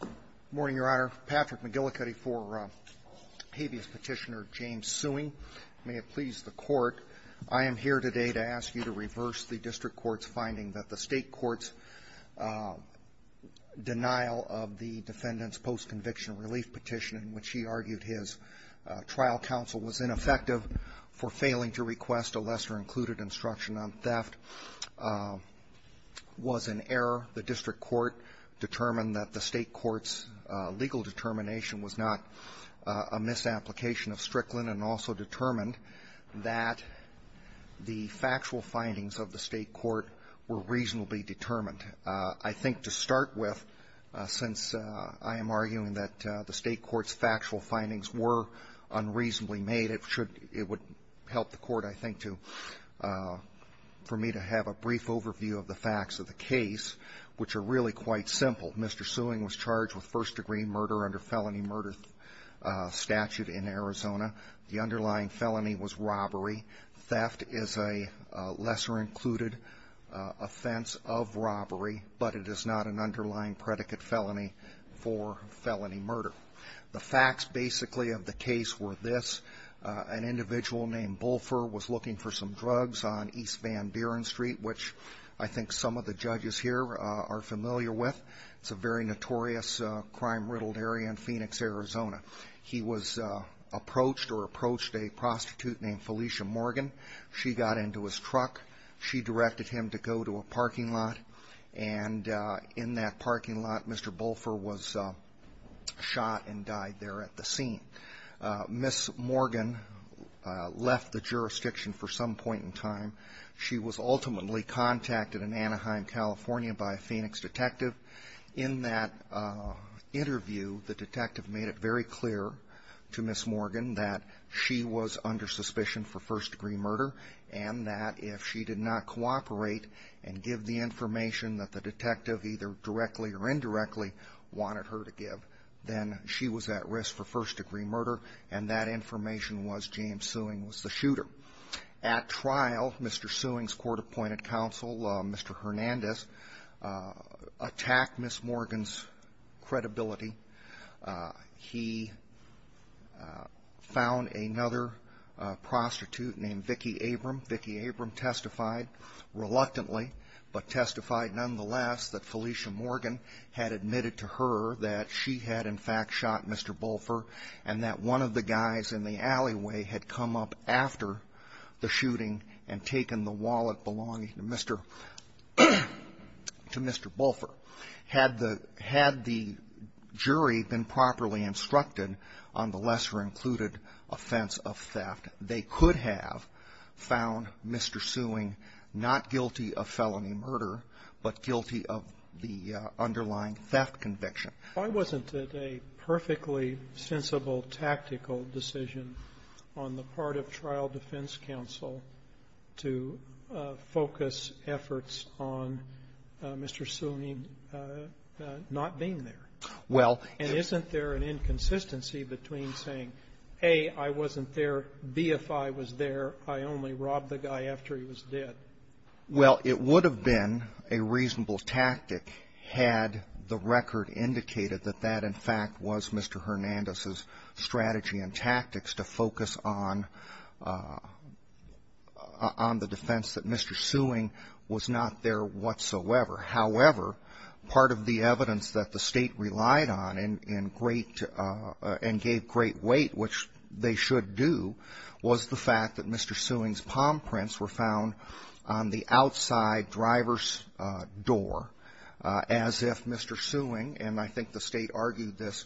Good morning, Your Honor. Patrick McGillicuddy for habeas petitioner James SUEING. May it please the court, I am here today to ask you to reverse the district court's finding that the state court's denial of the defendant's post-conviction relief petition, in which he argued his trial counsel was ineffective for failing to request a lesser included instruction on theft, was an error. The district court determined that the state court's legal determination was not a misapplication of Strickland and also determined that the factual findings of the state court were reasonably determined. I think to start with, since I am arguing that the state court's factual findings were unreasonably made, it should – it would help the court, I think, to – for me to have a brief overview of the facts of the case, which are really quite simple. Mr. SUEING was charged with first degree murder under felony murder statute in Arizona. The underlying felony was robbery. Theft is a lesser included offense of robbery, but it is not an underlying predicate felony for felony murder. The facts, basically, of the case were this. An individual named BULFER was looking for some drugs on East Van Buren Street, which I think some of the judges here are familiar with. It's a very notorious crime-riddled area in Phoenix, Arizona. He was approached or approached a prostitute named Felicia Morgan. She got into his truck. She directed him to go to a parking lot. And in that parking lot, Mr. BULFER was shot and died there at the scene. Ms. Morgan left the jurisdiction for some point in time. She was ultimately contacted in Anaheim, California by a Phoenix detective. In that interview, the detective made it very clear to Ms. Morgan that she was under suspicion for first degree murder and that if she did not cooperate and give the information, she would be charged with first degree murder. At trial, Mr. Sewing's court-appointed counsel, Mr. Hernandez, attacked Ms. Morgan's credibility. He found another prostitute named Vicki Abram. Vicki Abram testified reluctantly, but testified against her. She was charged with first degree murder. She testified, nonetheless, that Felicia Morgan had admitted to her that she had, in fact, shot Mr. BULFER and that one of the guys in the alleyway had come up after the shooting and taken the wallet belonging to Mr. BULFER. Had the jury been properly instructed on the lesser-included offense of theft, they could have found Mr. Sewing not guilty of felony murder. But guilty of the underlying theft conviction. Sotomayor, why wasn't it a perfectly sensible tactical decision on the part of Trial Defense Counsel to focus efforts on Mr. Sewing not being there? Well, if you ---- And isn't there an inconsistency between saying, A, I wasn't there, B, if I was there, I only robbed the guy after he was dead? Well, it would have been a reasonable tactic had the record indicated that that, in fact, was Mr. Hernandez's strategy and tactics to focus on the defense that Mr. Sewing was not there whatsoever. However, part of the evidence that the State relied on in great ---- and gave great weight, which they should do, was the fact that Mr. Sewing's palm prints were found on the outside driver's door as if Mr. Sewing, and I think the State argued this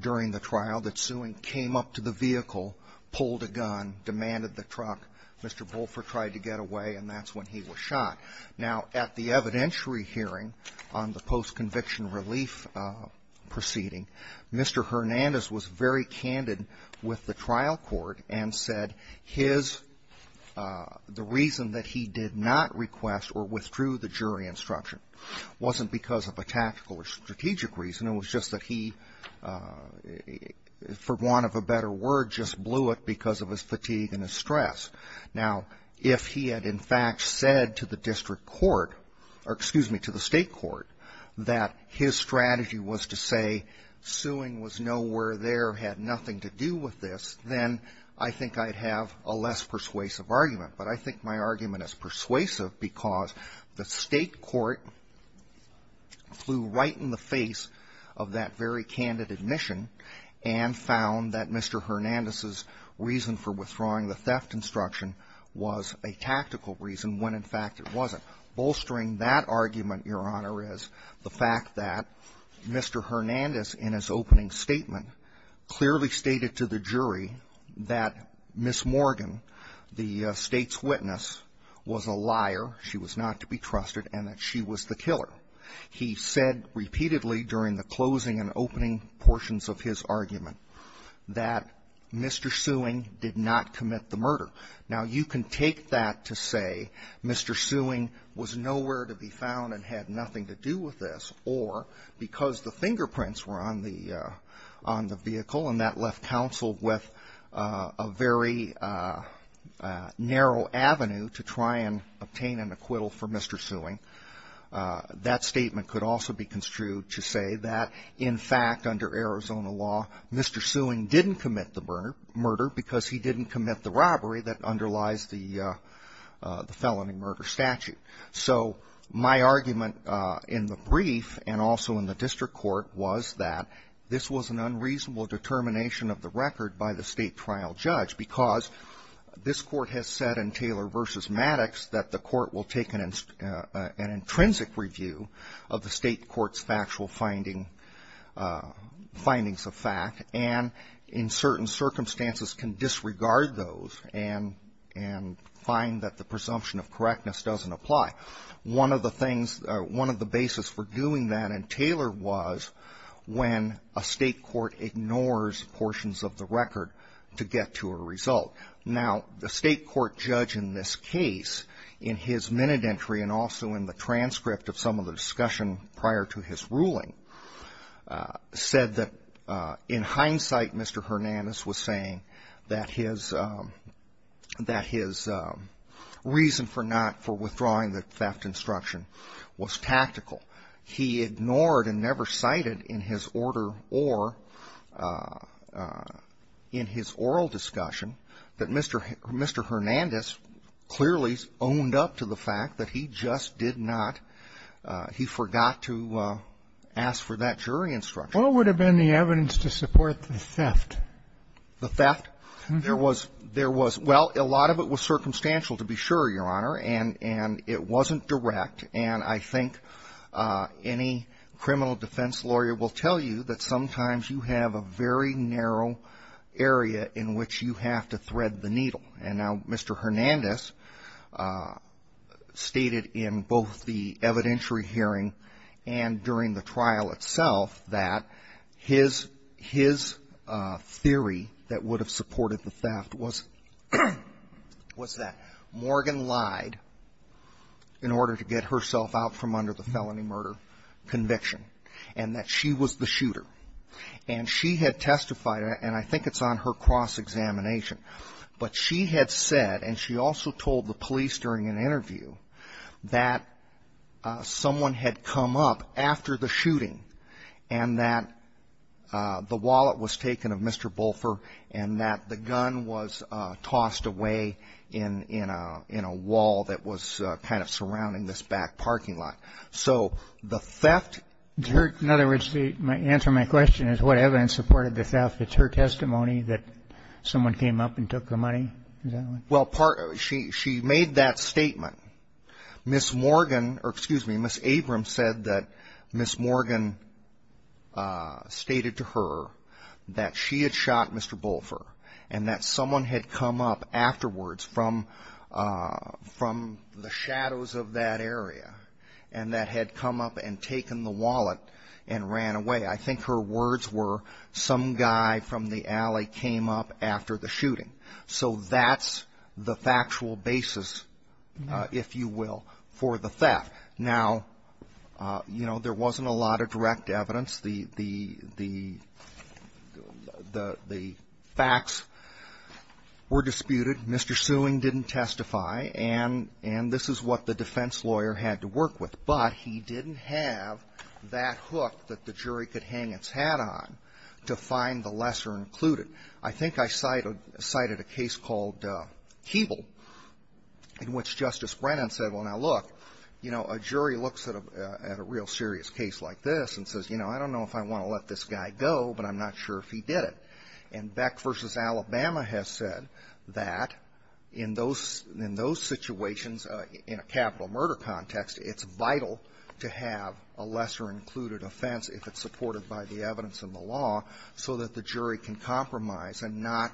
during the trial, that Sewing came up to the vehicle, pulled a gun, demanded the truck. Mr. BULFER tried to get away, and that's when he was shot. Now, at the evidentiary hearing on the post-conviction relief proceeding, Mr. Hernandez was very candid with the trial court and said his ---- the reason that he did not request or withdrew the jury instruction wasn't because of a tactical or strategic reason, it was just that he, for want of a better word, just blew it because of his fatigue and his stress. Now, if he had, in fact, said to the district court, or excuse me, to the State court, that his strategy was to say Sewing was nowhere there, had nothing to do with this, then I think I'd have a less persuasive argument. But I think my argument is persuasive because the State court flew right in the face of that very candid admission and found that Mr. Hernandez's reason for withdrawing the theft instruction was a tactical reason when, in fact, it wasn't. Bolstering that argument, Your Honor, is the fact that Mr. Hernandez, in his opening statement, clearly stated to the jury that Ms. Morgan, the State's witness, was a liar, she was not to be trusted, and that she was the killer. He said repeatedly during the closing and opening portions of his argument that Mr. Sewing did not commit the murder. Now, you can take that to say Mr. Sewing was nowhere to be found and had nothing to do with this, or because the fingerprints were on the vehicle and that left counsel with a very narrow avenue to try and obtain an acquittal for Mr. Sewing. That statement could also be construed to say that, in fact, under Arizona law, Mr. that underlies the felony murder statute. So my argument in the brief and also in the district court was that this was an unreasonable determination of the record by the State trial judge because this court has said in Taylor v. Maddox that the court will take an intrinsic review of the State court's factual findings findings of fact and, in certain circumstances, can disregard those and find that the presumption of correctness doesn't apply. One of the things, one of the basis for doing that in Taylor was when a State court ignores portions of the record to get to a result. Now, the State court judge in this case, in his minute entry and also in the transcript of some of the discussion prior to his ruling, said that, in hindsight, Mr. Hernandez was saying that his reason for not, for withdrawing the theft instruction was tactical. He ignored and never cited in his order or in his oral discussion that Mr. Hernandez clearly owned up to the fact that he just did not, he forgot to ask for that jury instruction. What would have been the evidence to support the theft? The theft? There was, well, a lot of it was circumstantial, to be sure, Your Honor, and it wasn't direct. And I think any criminal defense lawyer will tell you that sometimes you have a very narrow area in which you have to thread the needle. And now Mr. Hernandez stated in both the evidentiary hearing and during the trial itself that his theory that would have supported the theft was that Morgan lied in order to get herself out from under the felony murder conviction and that she was the shooter. And she had testified, and I think it's on her cross-examination. But she had said, and she also told the police during an interview, that someone had come up after the shooting and that the wallet was taken of Mr. Bolfer and that the gun was tossed away in a wall that was kind of surrounding this back parking lot. So the theft? In other words, the answer to my question is what evidence supported the theft? It's her testimony that someone came up and took the money? Well, she made that statement. Ms. Morgan, or excuse me, Ms. Abrams said that Ms. Morgan stated to her that she had shot Mr. Bolfer and that someone had come up afterwards from the shadows of that area and that had come up and taken the wallet and ran away. I think her words were some guy from the alley came up after the shooting. So that's the factual basis, if you will, for the theft. Now, you know, there wasn't a lot of direct evidence. The facts were disputed. Mr. Sewing didn't testify. And this is what the defense lawyer had to work with. But he didn't have that hook that the jury could hang its hat on to find the lesser included. I think I cited a case called Keeble in which Justice Brennan said, well, now look, you know, a jury looks at a real serious case like this and says, you know, I don't know if I want to let this guy go, but I'm not sure if he did it. And Beck versus Alabama has said that in those in those situations, in a capital murder context, it's vital to have a lesser included offense if it's supported by the evidence in the law so that the jury can compromise and not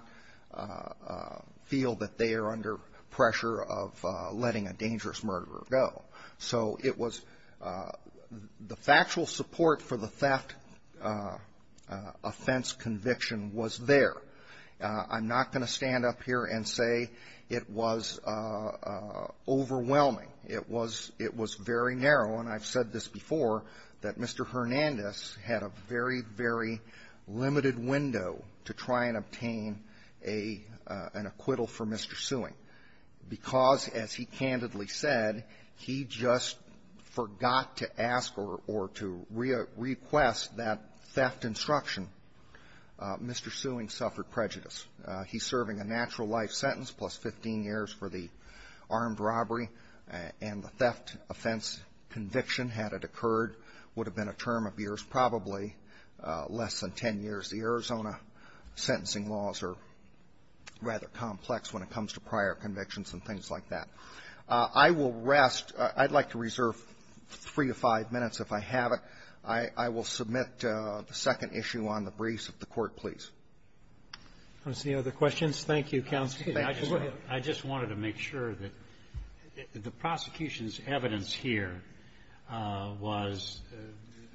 feel that they are under pressure of letting a dangerous murderer go. So it was the factual support for the theft offense conviction was there. I'm not going to stand up here and say it was overwhelming. It was very narrow. And I've said this before, that Mr. Hernandez had a very, very limited window to try and obtain an acquittal for Mr. Sewing, because, as he candidly said, he just forgot to ask or to request that theft instruction. Mr. Sewing suffered prejudice. He's serving a natural life sentence, plus 15 years for the armed robbery. And the theft offense conviction, had it occurred, would have been a term of years, probably less than 10 years. The Arizona sentencing laws are rather complex when it comes to prior convictions and things like that. I will rest. I'd like to reserve three to five minutes, if I have it. I will submit the second issue on the briefs of the Court, please. Roberts, any other questions? Thank you, Counsel. I just wanted to make sure that the prosecution's evidence here was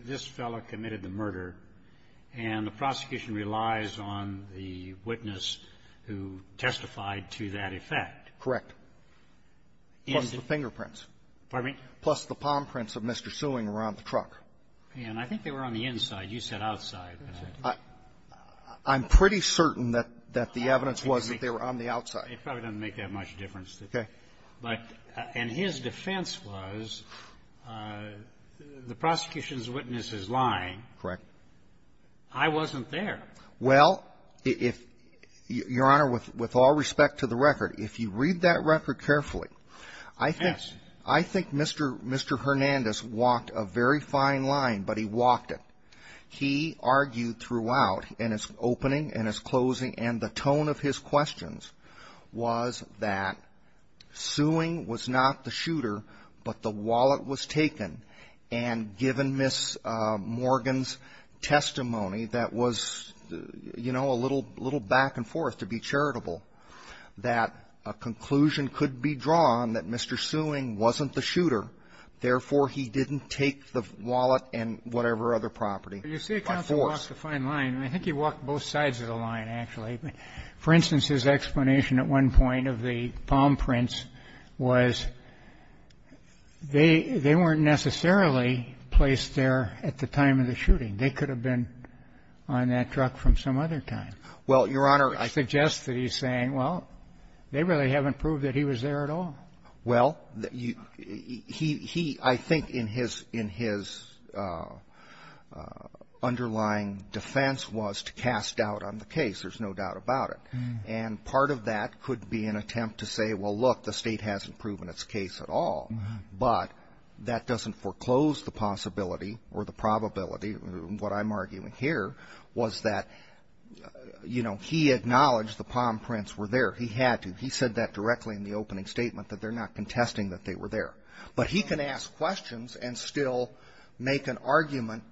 this fellow committed the murder, and the prosecution relies on the witness who testified to that effect. Correct. Plus the fingerprints. Pardon me? Plus the palm prints of Mr. Sewing around the truck. And I think they were on the inside. You said outside. I'm pretty certain that the evidence was that they were on the outside. It probably doesn't make that much difference. Okay. But his defense was the prosecution's witness is lying. Correct. I wasn't there. Well, if you're honor, with all respect to the record, if you read that record carefully, I think Mr. Hernandez walked a very fine line, but he walked it. He argued throughout in his opening, in his closing, and the tone of his questions was that Sewing was not the shooter, but the wallet was taken. And given Ms. Morgan's testimony that was, you know, a little back and forth to be charitable, that a conclusion could be drawn that Mr. Sewing wasn't the You say counsel walked a fine line. I think he walked both sides of the line, actually. For instance, his explanation at one point of the palm prints was they weren't necessarily placed there at the time of the shooting. They could have been on that truck from some other time. Well, Your Honor. I suggest that he's saying, well, they really haven't proved that he was there at all. Well, he, I think in his underlying defense was to cast doubt on the case. There's no doubt about it. And part of that could be an attempt to say, well, look, the state hasn't proven its case at all, but that doesn't foreclose the possibility or the probability. What I'm arguing here was that, you know, he acknowledged the palm prints were there. He had to. He said that directly in the opening statement, that they're not contesting that they were there. But he can ask questions and still make an argument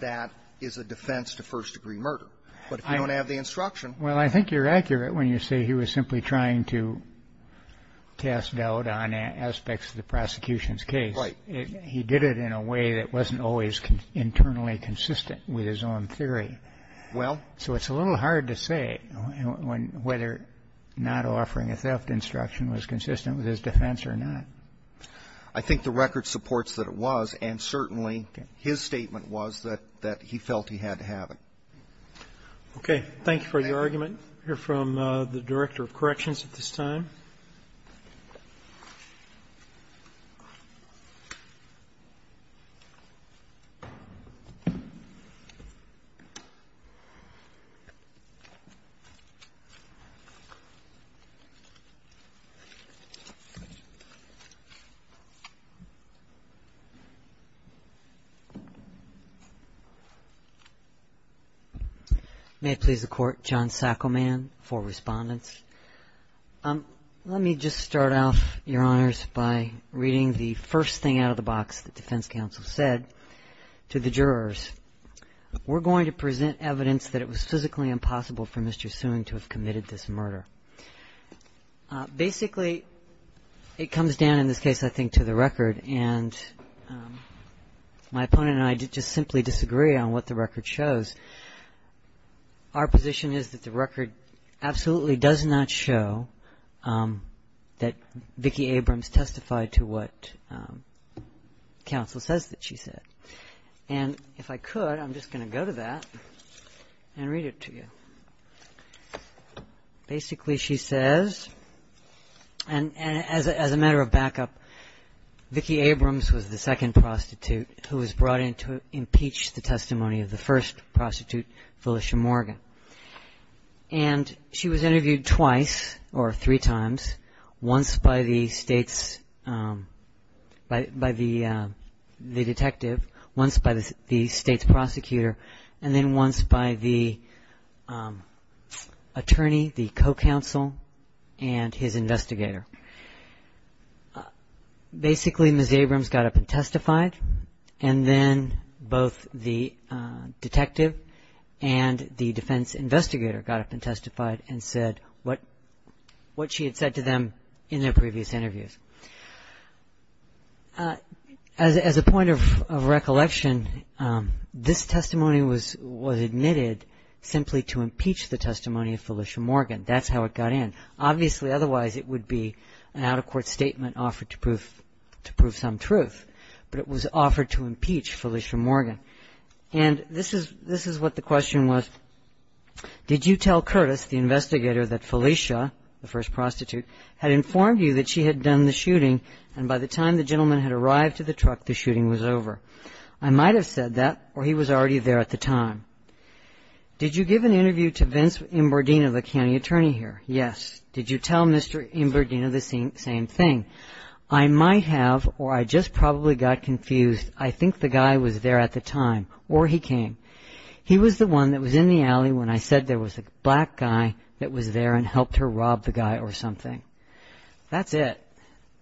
that is a defense to first degree murder. But if you don't have the instruction. Well, I think you're accurate when you say he was simply trying to cast doubt on aspects of the prosecution's case. Right. He did it in a way that wasn't always internally consistent with his own theory. Well. So it's a little hard to say whether not offering a theft instruction was consistent with his defense or not. I think the record supports that it was, and certainly his statement was that he felt he had to have it. Okay. Thank you for your argument. We'll hear from the Director of Corrections at this time. May it please the Court. John Sackleman for Respondents. Let me just start off, Your Honors, by reading the first thing out of the box the defense counsel said to the jurors. We're going to present evidence that it was physically impossible for Mr. Soon to have committed this murder. Basically, it comes down in this case, I think, to the record. And my opponent and I just simply disagree on what the record shows. Our position is that the record absolutely does not show that Vicki Abrams testified to what counsel says that she said. And if I could, I'm just going to go to that and read it to you. Basically, she says, and as a matter of backup, Vicki Abrams was the second prostitute who was brought in to impeach the testimony of the first prostitute, Phylicia Morgan. And she was interviewed twice or three times, once by the state's, by the detective, once by the state's prosecutor, and then once by the attorney, the co-counsel, and his investigator. Basically, Ms. Abrams got up and testified, and then both the detective and the defense investigator got up and testified and said what she had said to them in their previous interviews. As a point of recollection, this testimony was admitted simply to impeach the testimony of Phylicia Morgan. That's how it got in. Obviously, otherwise, it would be an out-of-court statement offered to prove some truth. But it was offered to impeach Phylicia Morgan. And this is what the question was. Did you tell Curtis, the investigator, that Phylicia, the first prostitute, had informed you that she had done the shooting, and by the time the gentleman had arrived to the truck, the shooting was over? I might have said that, or he was already there at the time. Did you give an interview to Vince Imbardino, the county attorney here? Yes. Did you tell Mr. Imbardino the same thing? I might have, or I just probably got confused. I think the guy was there at the time, or he came. He was the one that was in the alley when I said there was a black guy that was there and helped her rob the guy or something. That's it.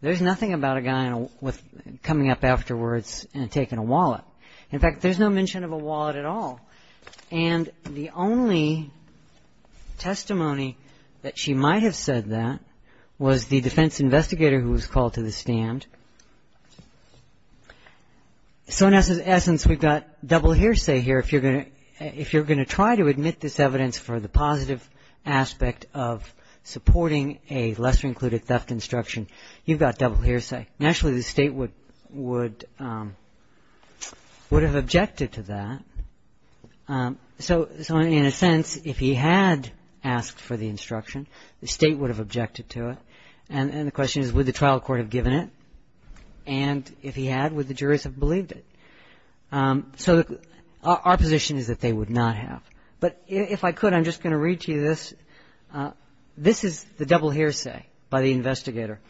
There's nothing about a guy coming up afterwards and taking a wallet. In fact, there's no mention of a wallet at all. And the only testimony that she might have said that was the defense investigator who was called to the stand. So in essence, we've got double hearsay here. If you're going to try to admit this evidence for the positive aspect of supporting a lesser-included theft instruction, you've got double hearsay. Naturally, the state would have objected to that. So in a sense, if he had asked for the instruction, the state would have objected to it. And the question is, would the trial court have given it? And if he had, would the jurors have believed it? So our position is that they would not have. But if I could, I'm just going to read to you this. This is the double hearsay by the investigator.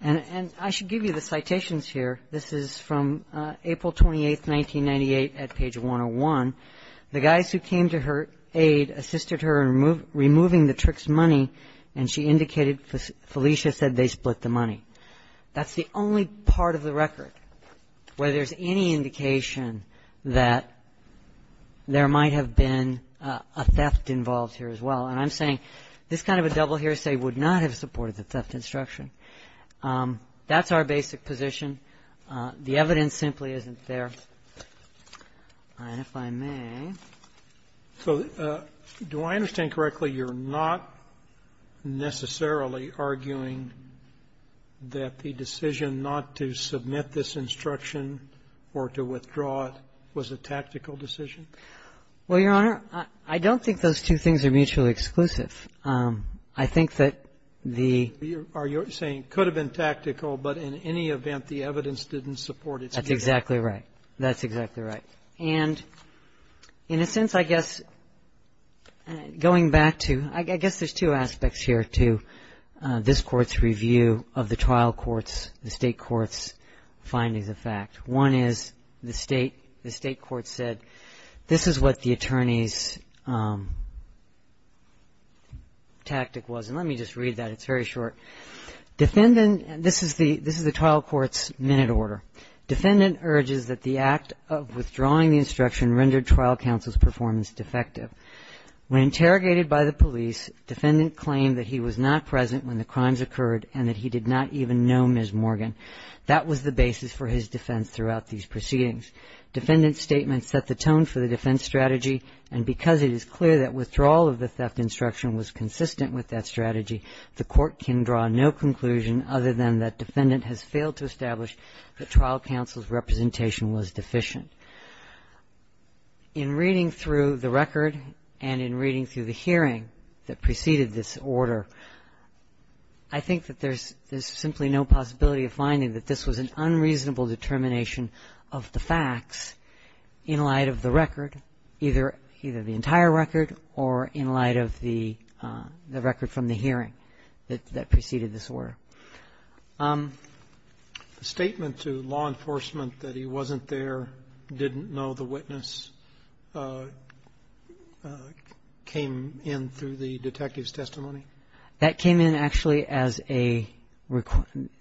And I should give you the citations here. This is from April 28, 1998 at page 101. The guys who came to her aid assisted her in removing the trick's money. And she indicated Felicia said they split the money. That's the only part of the record where there's any indication that there might have been a theft involved here as well. And I'm saying this kind of a double hearsay would not have supported the theft instruction. That's our basic position. The evidence simply isn't there. And if I may. So do I understand correctly you're not necessarily arguing that the decision not to submit this instruction or to withdraw it was a tactical decision? Well, Your Honor, I don't think those two things are mutually exclusive. I think that the — Are you saying it could have been tactical, but in any event, the evidence didn't support its — That's exactly right. That's exactly right. And in a sense, I guess going back to — I guess there's two aspects here to this Court's review of the trial court's, the State court's findings of fact. One is the State court said this is what the attorney's tactic was. And let me just read that. It's very short. Defendant — this is the trial court's minute order. Defendant urges that the act of withdrawing the instruction rendered trial counsel's performance defective. When interrogated by the police, defendant claimed that he was not present when the crimes occurred and that he did not even know Ms. Morgan. That was the basis for his defense throughout these proceedings. Defendant's statement set the tone for the defense strategy. And because it is clear that withdrawal of the theft instruction was consistent with that strategy, the Court can draw no conclusion other than that defendant has failed to establish that trial counsel's representation was deficient. In reading through the record and in reading through the hearing that preceded this order, I think that there's simply no possibility of finding that this was an unreasonable determination of the facts in light of the record, either the entire record or in light of the record from the hearing that preceded this order. The statement to law enforcement that he wasn't there, didn't know the witness, came in through the detective's testimony? That came in actually as a,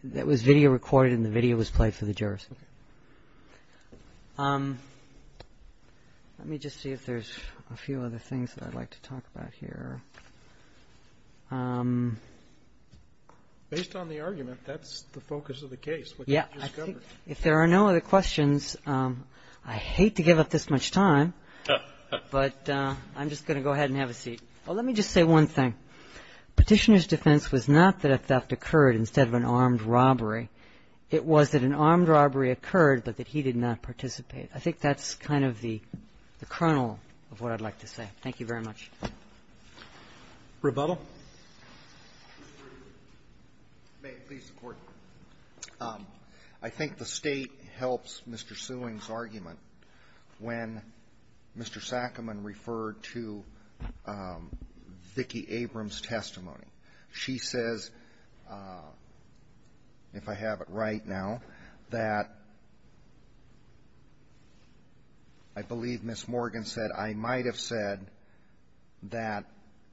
that was video recorded and the video was played for the jurors. Let me just see if there's a few other things that I'd like to talk about here. Based on the argument, that's the focus of the case. Yeah. If there are no other questions, I hate to give up this much time, but I'm just going to go ahead and have a seat. Let me just say one thing. Petitioner's defense was not that a theft occurred instead of an armed robbery. It was that an armed robbery occurred, but that he did not participate. I think that's kind of the kernel of what I'd like to say. Thank you very much. Rebuttal? May it please the Court. I think the State helps Mr. Sewing's argument when Mr. Sakamon referred to Vicki Abrams' testimony. She says, if I have it right now, that I believe Ms. Morgan said, I might have said that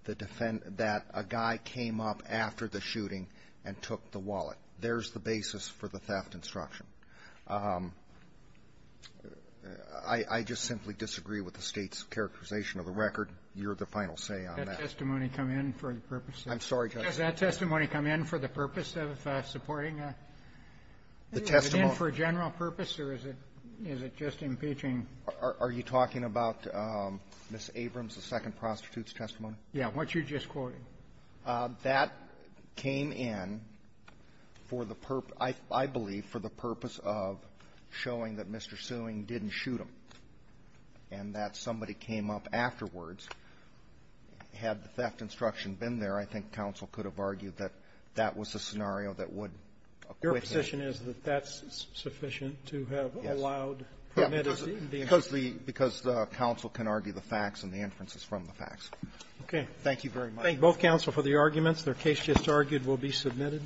the defense, that a guy came up after the shooting and took the wallet. There's the basis for the theft instruction. I just simply disagree with the State's characterization of the record. You're the final say on that. Did that testimony come in for the purpose? I'm sorry, Justice. Does that testimony come in for the purpose of supporting a, is it in for a general purpose or is it just impeaching? Are you talking about Ms. Abrams' second prostitute's testimony? Yeah. What you're just quoting. That came in for the purpose, I believe, for the purpose of showing that Mr. Sewing didn't shoot him and that somebody came up afterwards. Had the theft instruction been there, I think counsel could have argued that that was a scenario that would acquit him. The question is that that's sufficient to have allowed. Yes. Because the counsel can argue the facts and the inferences from the facts. Okay. Thank you very much. Thank both counsel for the arguments. Their case just argued will be submitted.